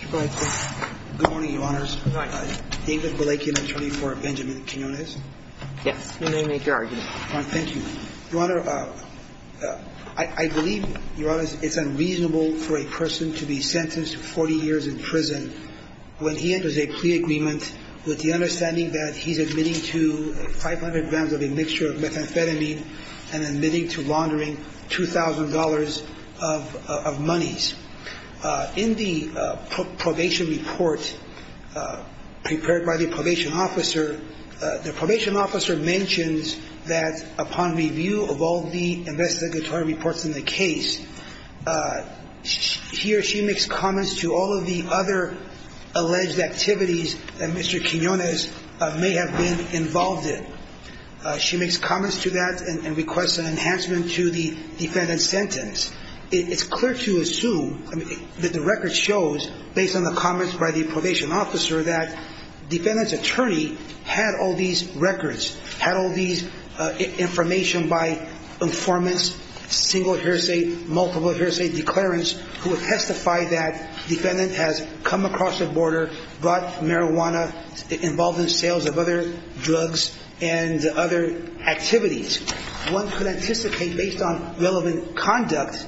Good morning, Your Honors. David Volekian, attorney for Benjamin Quinonez. Yes, you may make your argument. Thank you. Your Honor, I believe, Your Honors, it's unreasonable for a person to be sentenced to 40 years in prison when he enters a plea agreement with the understanding that he's admitting to 500 grams of a mixture of methamphetamine and admitting to laundering $2,000 of monies. In the probation report prepared by the probation officer, the probation officer mentions that upon review of all the investigatory reports in the case, he or she makes comments to all of the other alleged activities that Mr. Quinonez may have been involved in. She makes comments to that and requests an enhancement to the defendant's sentence. It's clear to assume that the record shows, based on the comments by the probation officer, that the defendant's attorney had all these records, had all these information by informants, single hearsay, multiple hearsay, declarants, who have testified that the defendant has come across the border, brought marijuana, involved in sales of other drugs and other activities. One could anticipate, based on relevant conduct,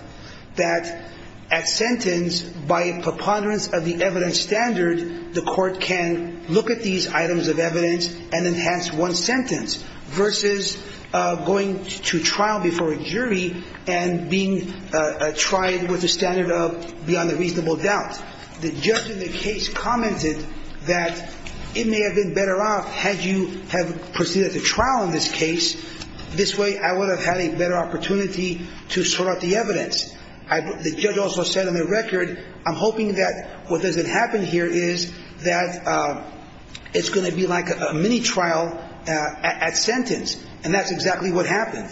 that at sentence, by preponderance of the evidence standard, the court can look at these items of evidence and enhance one sentence versus going to trial before a jury and being tried with a standard of beyond a reasonable doubt. The judge in the case commented that it may have been better off had you proceeded to trial in this case. This way, I would have had a better opportunity to sort out the evidence. The judge also said on the record, I'm hoping that what doesn't happen here is that it's going to be like a mini-trial at sentence. And that's exactly what happened.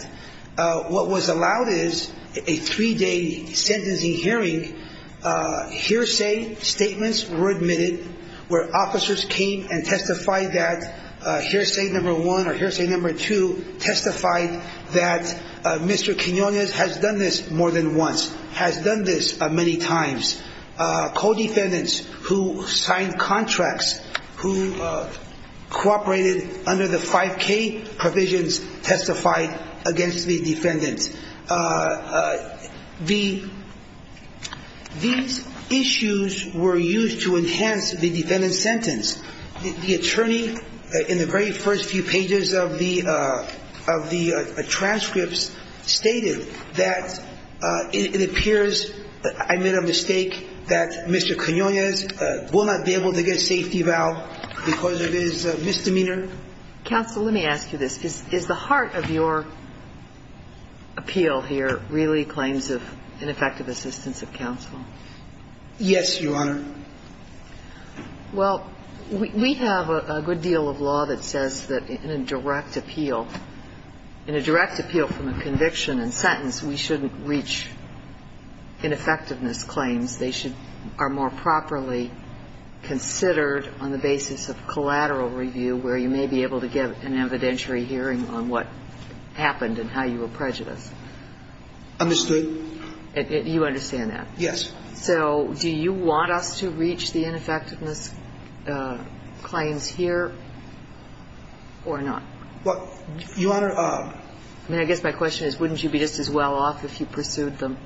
What was allowed is a three-day sentencing hearing. Hearsay statements were admitted where officers came and testified that hearsay number one or hearsay number two testified that Mr. Quinonez has done this more than once, has done this many times. Co-defendants who signed contracts, who cooperated under the 5K provisions testified against the defendant. These issues were used to enhance the defendant's sentence. The attorney in the very first few pages of the transcripts stated that it appears that I made a mistake, that Mr. Quinonez will not be able to get a safety valve because of his misdemeanor. Counsel, let me ask you this. Is the heart of your appeal here really claims of ineffective assistance of counsel? Yes, Your Honor. Well, we have a good deal of law that says that in a direct appeal, in a direct appeal from a conviction and sentence, we shouldn't reach ineffectiveness claims. They should be more properly considered on the basis of collateral review where you may be able to get an evidentiary hearing on what happened and how you were prejudiced. Understood. You understand that? Yes. So do you want us to reach the ineffectiveness claims here or not? Well, Your Honor. I mean, I guess my question is wouldn't you be just as well off if you pursued them?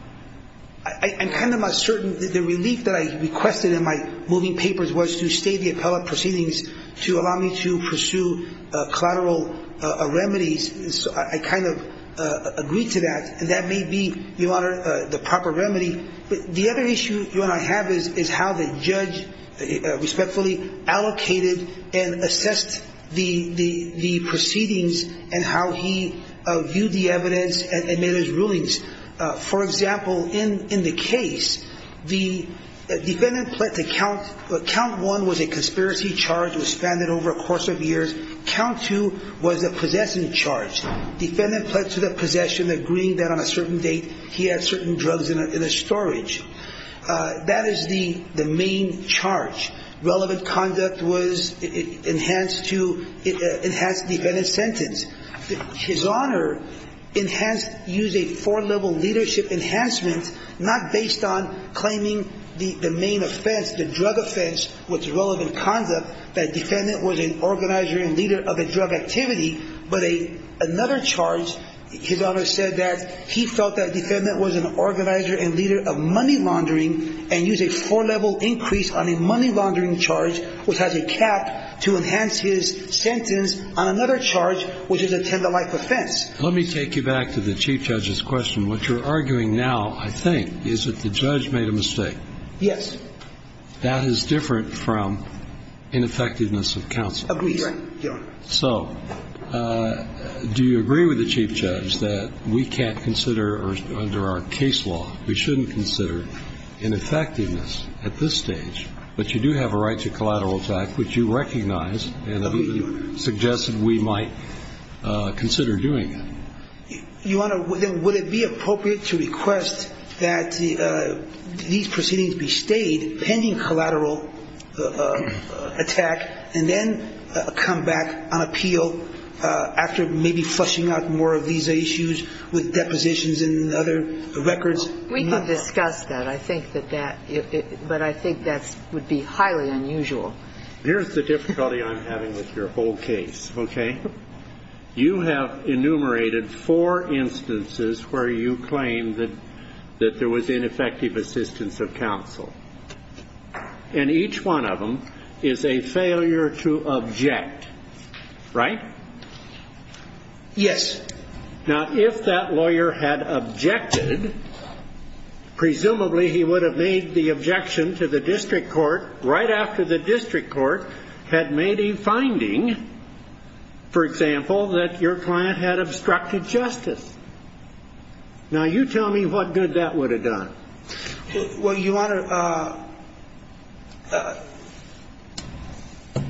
I'm kind of uncertain. The relief that I requested in my moving papers was to stay the appellate proceedings to allow me to pursue collateral remedies. I kind of agreed to that, and that may be, Your Honor, the proper remedy. The other issue, Your Honor, I have is how the judge respectfully allocated and assessed the proceedings and how he viewed the evidence and made his rulings. For example, in the case, the defendant pled to count. Count one was a conspiracy charge. It was suspended over a course of years. Count two was a possession charge. Defendant pled to the possession, agreeing that on a certain date he had certain drugs in his storage. That is the main charge. Relevant conduct was enhanced to enhance the defendant's sentence. His Honor enhanced, used a four-level leadership enhancement not based on claiming the main offense, the drug offense with relevant conduct, that defendant was an organizer and leader of a drug activity, but another charge. His Honor said that he felt that defendant was an organizer and leader of money laundering and used a four-level increase on a money laundering charge, which has a cap, to enhance his sentence on another charge, which is a tender-like offense. Let me take you back to the Chief Judge's question. What you're arguing now, I think, is that the judge made a mistake. Yes. That is different from ineffectiveness of counsel. Agreed, Your Honor. So do you agree with the Chief Judge that we can't consider under our case law, we shouldn't consider ineffectiveness at this stage, but you do have a right to collateral attack, which you recognize and suggest that we might consider doing that? Your Honor, then would it be appropriate to request that these proceedings be stayed pending collateral attack and then come back on appeal after maybe flushing out more of these issues with depositions and other records? We can discuss that. I think that that – but I think that would be highly unusual. Here's the difficulty I'm having with your whole case, okay? You have enumerated four instances where you claim that there was ineffective assistance of counsel. And each one of them is a failure to object, right? Yes. Now, if that lawyer had objected, presumably he would have made the objection to the district court right after the district court had made a finding, for example, that your client had obstructed justice. Now, you tell me what good that would have done. Well, Your Honor,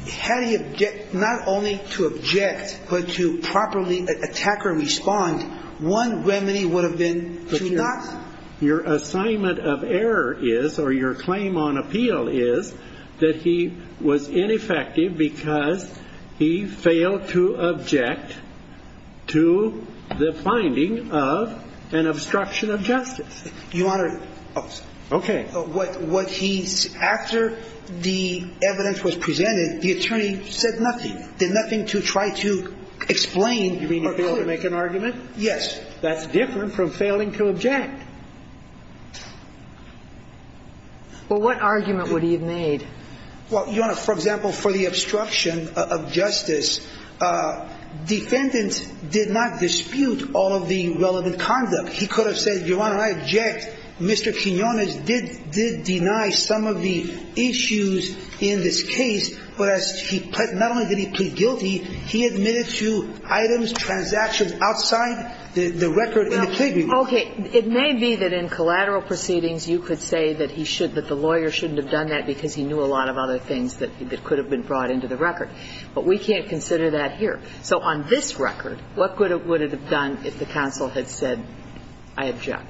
had he – not only to object, but to properly attack or respond, one remedy would have been to not – Your assignment of error is, or your claim on appeal is, that he was ineffective because he failed to object to the finding of an obstruction of justice. Your Honor, what he – after the evidence was presented, the attorney said nothing, did nothing to try to explain or prove. You mean he failed to make an argument? Yes. That's different from failing to object. Well, what argument would he have made? Well, Your Honor, for example, for the obstruction of justice, defendant did not dispute all of the relevant conduct. He could have said, Your Honor, I object. Mr. Quinones did deny some of the issues in this case, whereas he – not only did he plead guilty, he admitted to items, transactions outside the record in the plea agreement. Well, okay. It may be that in collateral proceedings you could say that he should – that the lawyer shouldn't have done that because he knew a lot of other things that could have been brought into the record. But we can't consider that here. So on this record, what would it have done if the counsel had said, I object?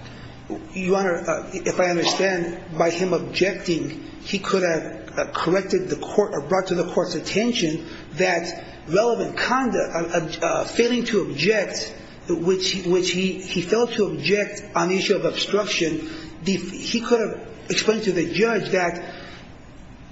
Your Honor, if I understand, by him objecting, he could have corrected the court or brought to the court's attention that relevant conduct, failing to object, which he failed to object on the issue of obstruction, he could have explained to the judge that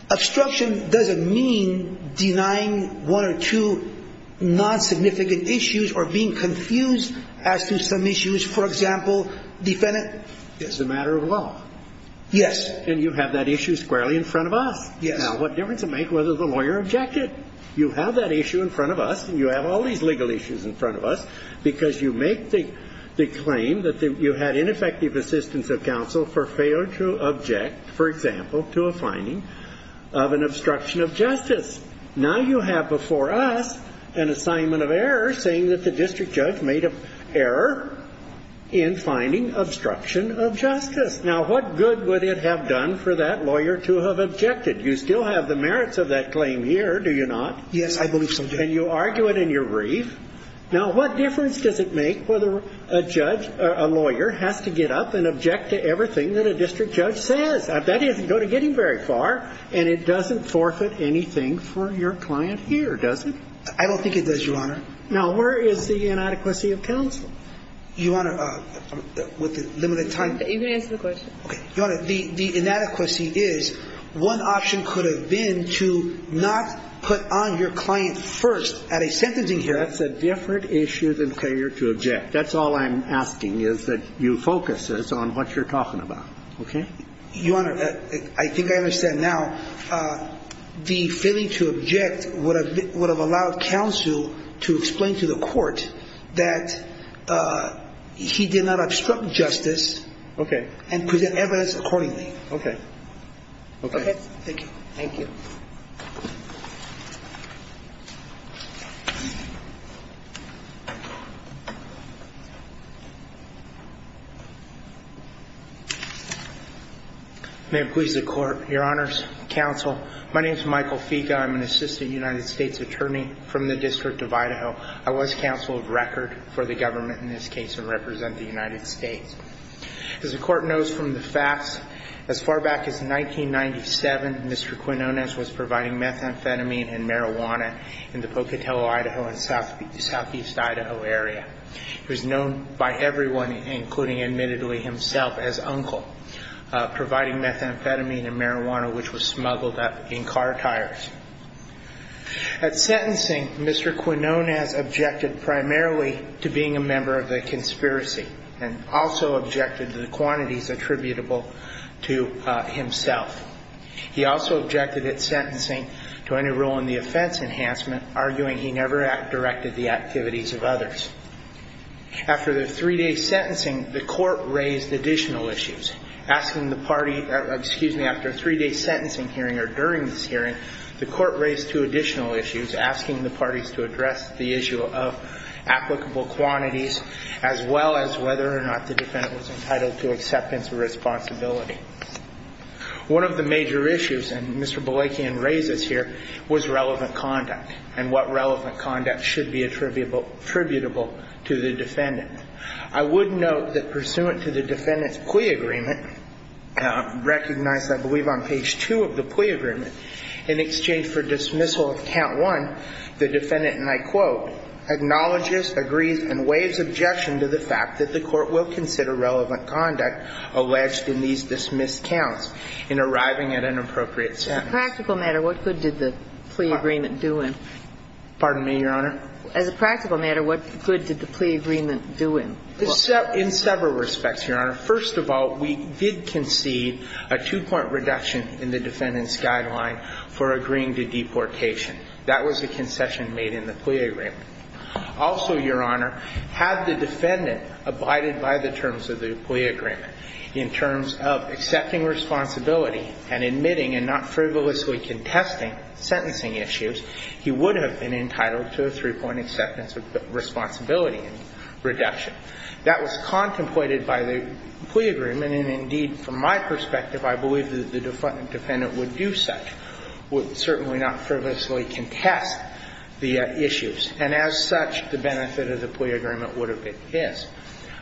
obstruction doesn't mean denying one or two non-significant issues or being confused as to some issues. For example, defendant – It's a matter of law. Yes. And you have that issue squarely in front of us. Yes. Now, what difference does it make whether the lawyer objected? You have that issue in front of us and you have all these legal issues in front of us because you make the claim that you had ineffective assistance of counsel for failing to object, for example, to a finding of an obstruction of justice. Now you have before us an assignment of error saying that the district judge made an error in finding obstruction of justice. Now, what good would it have done for that lawyer to have objected? You still have the merits of that claim here. Do you not? Yes, I believe so, Judge. And you argue it in your brief. Now, what difference does it make whether a judge – a lawyer has to get up and object to everything that a district judge says? That doesn't go to getting very far, and it doesn't forfeit anything for your client here, does it? I don't think it does, Your Honor. Now, where is the inadequacy of counsel? Your Honor, with the limited time – You can answer the question. Okay. Your Honor, the inadequacy is one option could have been to not put on your client first at a sentencing hearing. That's a different issue than failure to object. That's all I'm asking is that you focus this on what you're talking about. Okay? Your Honor, I think I understand now. The failing to object would have allowed counsel to explain to the court that he did not obstruct justice. Okay. And present evidence accordingly. Okay. Okay. Thank you. Thank you. May it please the Court. Your Honors, counsel, my name is Michael Figa. I'm an assistant United States attorney from the District of Idaho. I was counsel of record for the government in this case and represent the United States. As the Court knows from the facts, as far back as 1997, Mr. Quinonez was providing methamphetamine and marijuana in the Pocatello, Idaho and Southeast Idaho area. He was known by everyone, including admittedly himself, as Uncle, providing methamphetamine and marijuana, which was smuggled up in car tires. At sentencing, Mr. Quinonez objected primarily to being a member of the conspiracy and also objected to the quantities attributable to himself. He also objected at sentencing to any role in the offense enhancement, arguing he never directed the activities of others. After the three-day sentencing, the Court raised additional issues, asking the party – excuse me, after a three-day sentencing hearing or during this hearing, the Court raised two additional issues, asking the parties to address the issue of applicable quantities as well as whether or not the defendant was entitled to acceptance of responsibility. One of the major issues, and Mr. Balakian raises here, was relevant conduct and what relevant conduct should be attributable to the defendant. I would note that pursuant to the defendant's plea agreement, recognized, I believe, on page two of the plea agreement, in exchange for dismissal of count one, the defendant, and I quote, acknowledges, agrees, and waives objection to the fact that the Court will consider relevant conduct alleged in these dismissed counts in arriving at an appropriate sentence. As a practical matter, what good did the plea agreement do in? Pardon me, Your Honor? As a practical matter, what good did the plea agreement do in? In several respects, Your Honor. First of all, we did concede a two-point reduction in the defendant's guideline for agreeing to deportation. That was a concession made in the plea agreement. Also, Your Honor, had the defendant abided by the terms of the plea agreement in terms of accepting responsibility and admitting and not frivolously contesting sentencing issues, he would have been entitled to a three-point acceptance of responsibility reduction. That was contemplated by the plea agreement, and indeed, from my perspective, I believe that the defendant would do such, would certainly not frivolously contest the issues, and as such, the benefit of the plea agreement would have been his.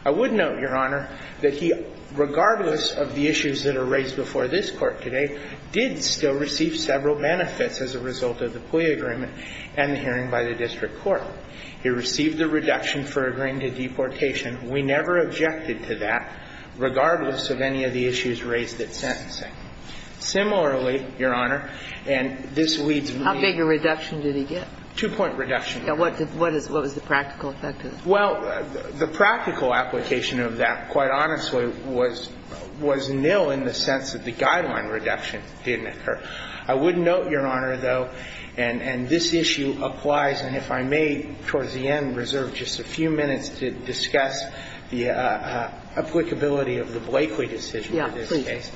I would note, Your Honor, that he, regardless of the issues that are raised before this Court today, did still receive several benefits as a result of the plea agreement and the hearing by the district court. He received the reduction for agreeing to deportation. We never objected to that, regardless of any of the issues raised at sentencing. Similarly, Your Honor, and this leads me to the other point. How big a reduction did he get? Two-point reduction. What was the practical effect of it? Well, the practical application of that, quite honestly, was nil in the sense that the guideline reduction didn't occur. I would note, Your Honor, though, and this issue applies, and if I may, towards the end, reserve just a few minutes to discuss the applicability of the Blakeley decision for this case.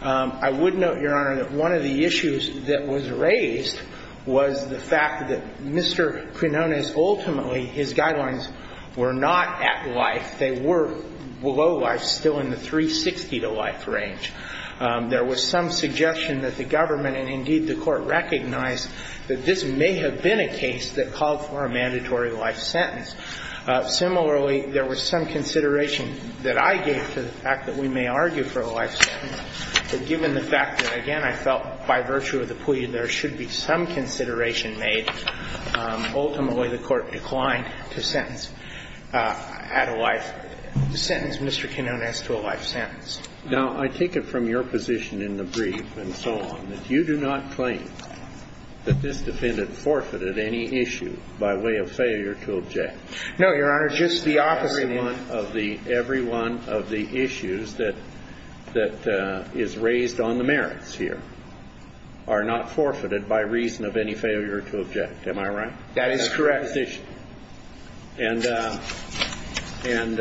Yeah, please. I would note, Your Honor, that one of the issues that was raised was the fact that Mr. Quinonez ultimately, his guidelines were not at life. They were below life, still in the 360-to-life range. There was some suggestion that the government and indeed the Court recognized that this may have been a case that called for a mandatory life sentence. Similarly, there was some consideration that I gave to the fact that we may argue for a life sentence, but given the fact that, again, I felt by virtue of the plea there should be some consideration made, ultimately the Court declined to sentence at a life sentence Mr. Quinonez to a life sentence. Now, I take it from your position in the brief and so on that you do not claim that this defendant forfeited any issue by way of failure to object. No, Your Honor. Just the opposite. Every one of the issues that is raised on the merits here are not forfeited by reason of any failure to object. Am I right? That is correct. I'm saying I'm not in favor of that position. And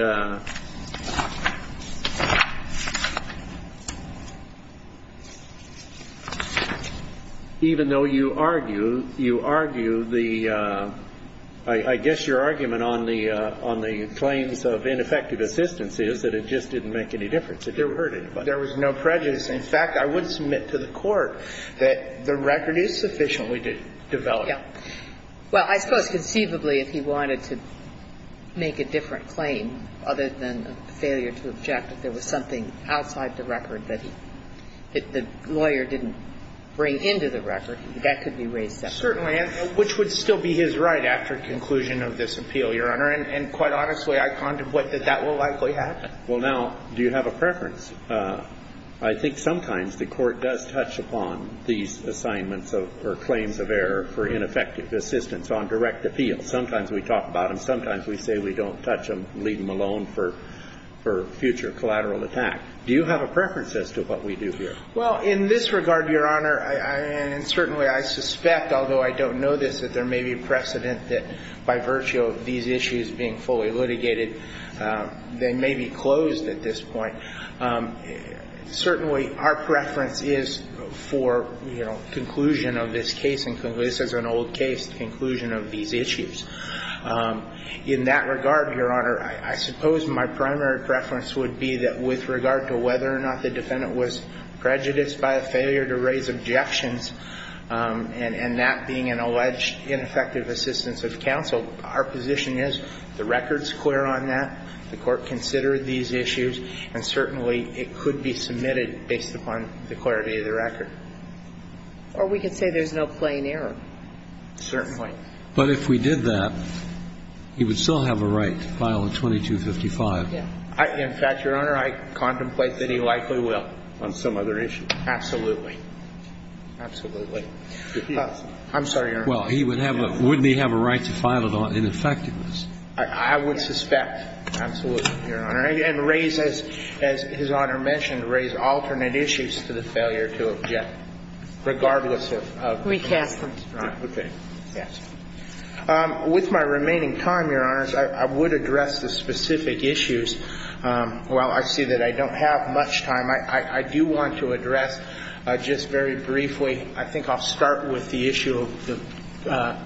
even though you argue, you argue the – I guess your argument on the claims of ineffective assistance is that it just didn't make any difference. It didn't hurt anybody. There was no prejudice. In fact, I would submit to the Court that the record is sufficiently developed. Yeah. Well, I suppose conceivably if he wanted to make a different claim other than a failure to object, if there was something outside the record that he – that the lawyer didn't bring into the record, that could be raised separately. Certainly, which would still be his right after conclusion of this appeal, Your Honor. And quite honestly, I contemplate that that will likely happen. Well, now, do you have a preference? I think sometimes the Court does touch upon these assignments or claims of error for ineffective assistance on direct appeal. Sometimes we talk about them. Sometimes we say we don't touch them, leave them alone for future collateral attack. Do you have a preference as to what we do here? Well, in this regard, Your Honor, and certainly I suspect, although I don't know this, that there may be precedent that by virtue of these issues being fully litigated, they may be closed at this point. Certainly, our preference is for, you know, conclusion of this case, and this is an old case, conclusion of these issues. In that regard, Your Honor, I suppose my primary preference would be that with regard to whether or not the defendant was prejudiced by a failure to raise objections and that being an alleged ineffective assistance of counsel, our position is the record is clear on that, the Court considered these issues, and certainly it could be submitted based upon the clarity of the record. Or we could say there's no plain error. Certainly. But if we did that, he would still have a right to file a 2255. Yeah. In fact, Your Honor, I contemplate that he likely will on some other issue. Absolutely. Absolutely. I'm sorry, Your Honor. Well, he would have a – wouldn't he have a right to file it on ineffectiveness? I would suspect. Absolutely, Your Honor. And raise, as His Honor mentioned, raise alternate issues to the failure to object, regardless of – Recast them. Right. Okay. Yes. With my remaining time, Your Honors, I would address the specific issues. While I see that I don't have much time, I do want to address just very briefly I think I'll start with the issue of the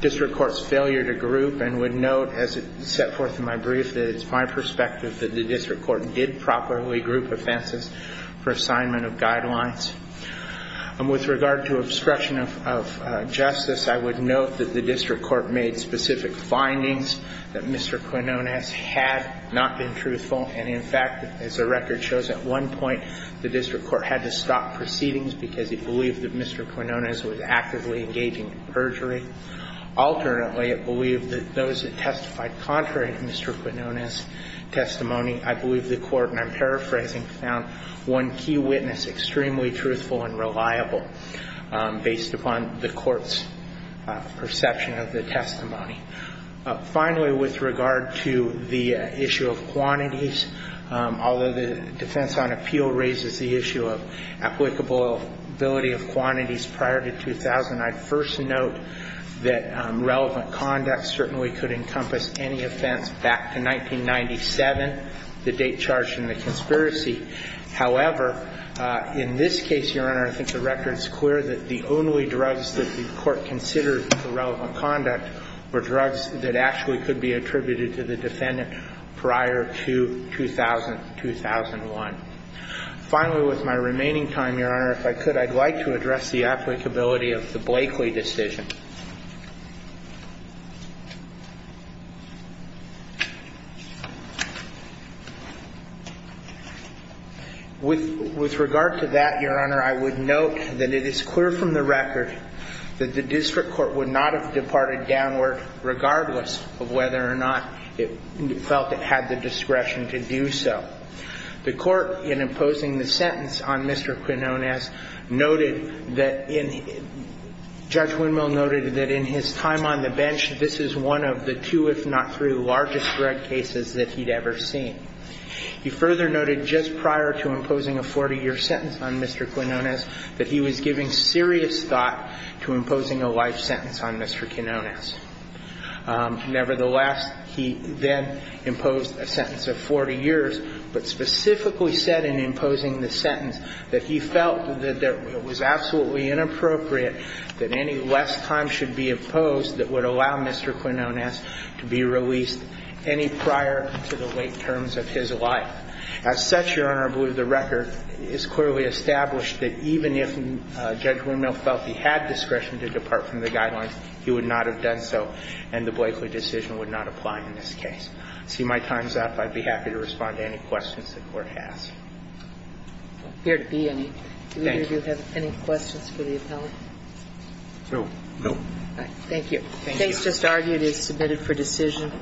district court's failure to group and would note, as it's set forth in my brief, that it's my perspective that the district court did properly group offenses for assignment of guidelines. And with regard to obstruction of justice, I would note that the district court made specific findings that Mr. Quinonez had not been truthful. And, in fact, as the record shows, at one point the district court had to stop proceedings because it believed that Mr. Quinonez was actively engaging in perjury. Alternately, it believed that those that testified contrary to Mr. Quinonez's testimony – I believe the court, and I'm paraphrasing, found one key witness extremely truthful and reliable based upon the court's perception of the testimony. Finally, with regard to the issue of quantities, although the defense on appeal raises the issue of applicability of quantities prior to 2000, I'd first note that relevant conduct certainly could encompass any offense back to 1997, the date charged in the conspiracy. However, in this case, Your Honor, I think the record is clear that the only drugs that the court considered for relevant conduct were drugs that actually could be attributed to the defendant prior to 2000, 2001. Finally, with my remaining time, Your Honor, if I could, I'd like to address the applicability of the Blakeley decision. With regard to that, Your Honor, I would note that it is clear from the record that the district court would not have departed downward regardless of whether or not it felt it had the discretion to do so. The court, in imposing the sentence on Mr. Quinonez, noted that in – Judge Winmill noted that in his time on the bench, this is one of the two, if not three, largest drug cases that he'd ever seen. He further noted just prior to imposing a 40-year sentence on Mr. Quinonez that he was giving serious thought to imposing a life sentence on Mr. Quinonez. Nevertheless, he then imposed a sentence of 40 years, but specifically said in imposing the sentence that he felt that it was absolutely inappropriate that any less time should be imposed that would allow Mr. Quinonez to be released any prior to the late terms of his life. As such, Your Honor, I believe the record is clearly established that even if Judge Winmill felt he had discretion to depart from the guidelines, he would not have done so, and the Blakeley decision would not apply in this case. See, my time's up. I'd be happy to respond to any questions the Court has. I'm here to be any. Thank you. Do either of you have any questions for the appellant? No. No. All right. Thank you. Thank you. Case just argued is submitted for decision.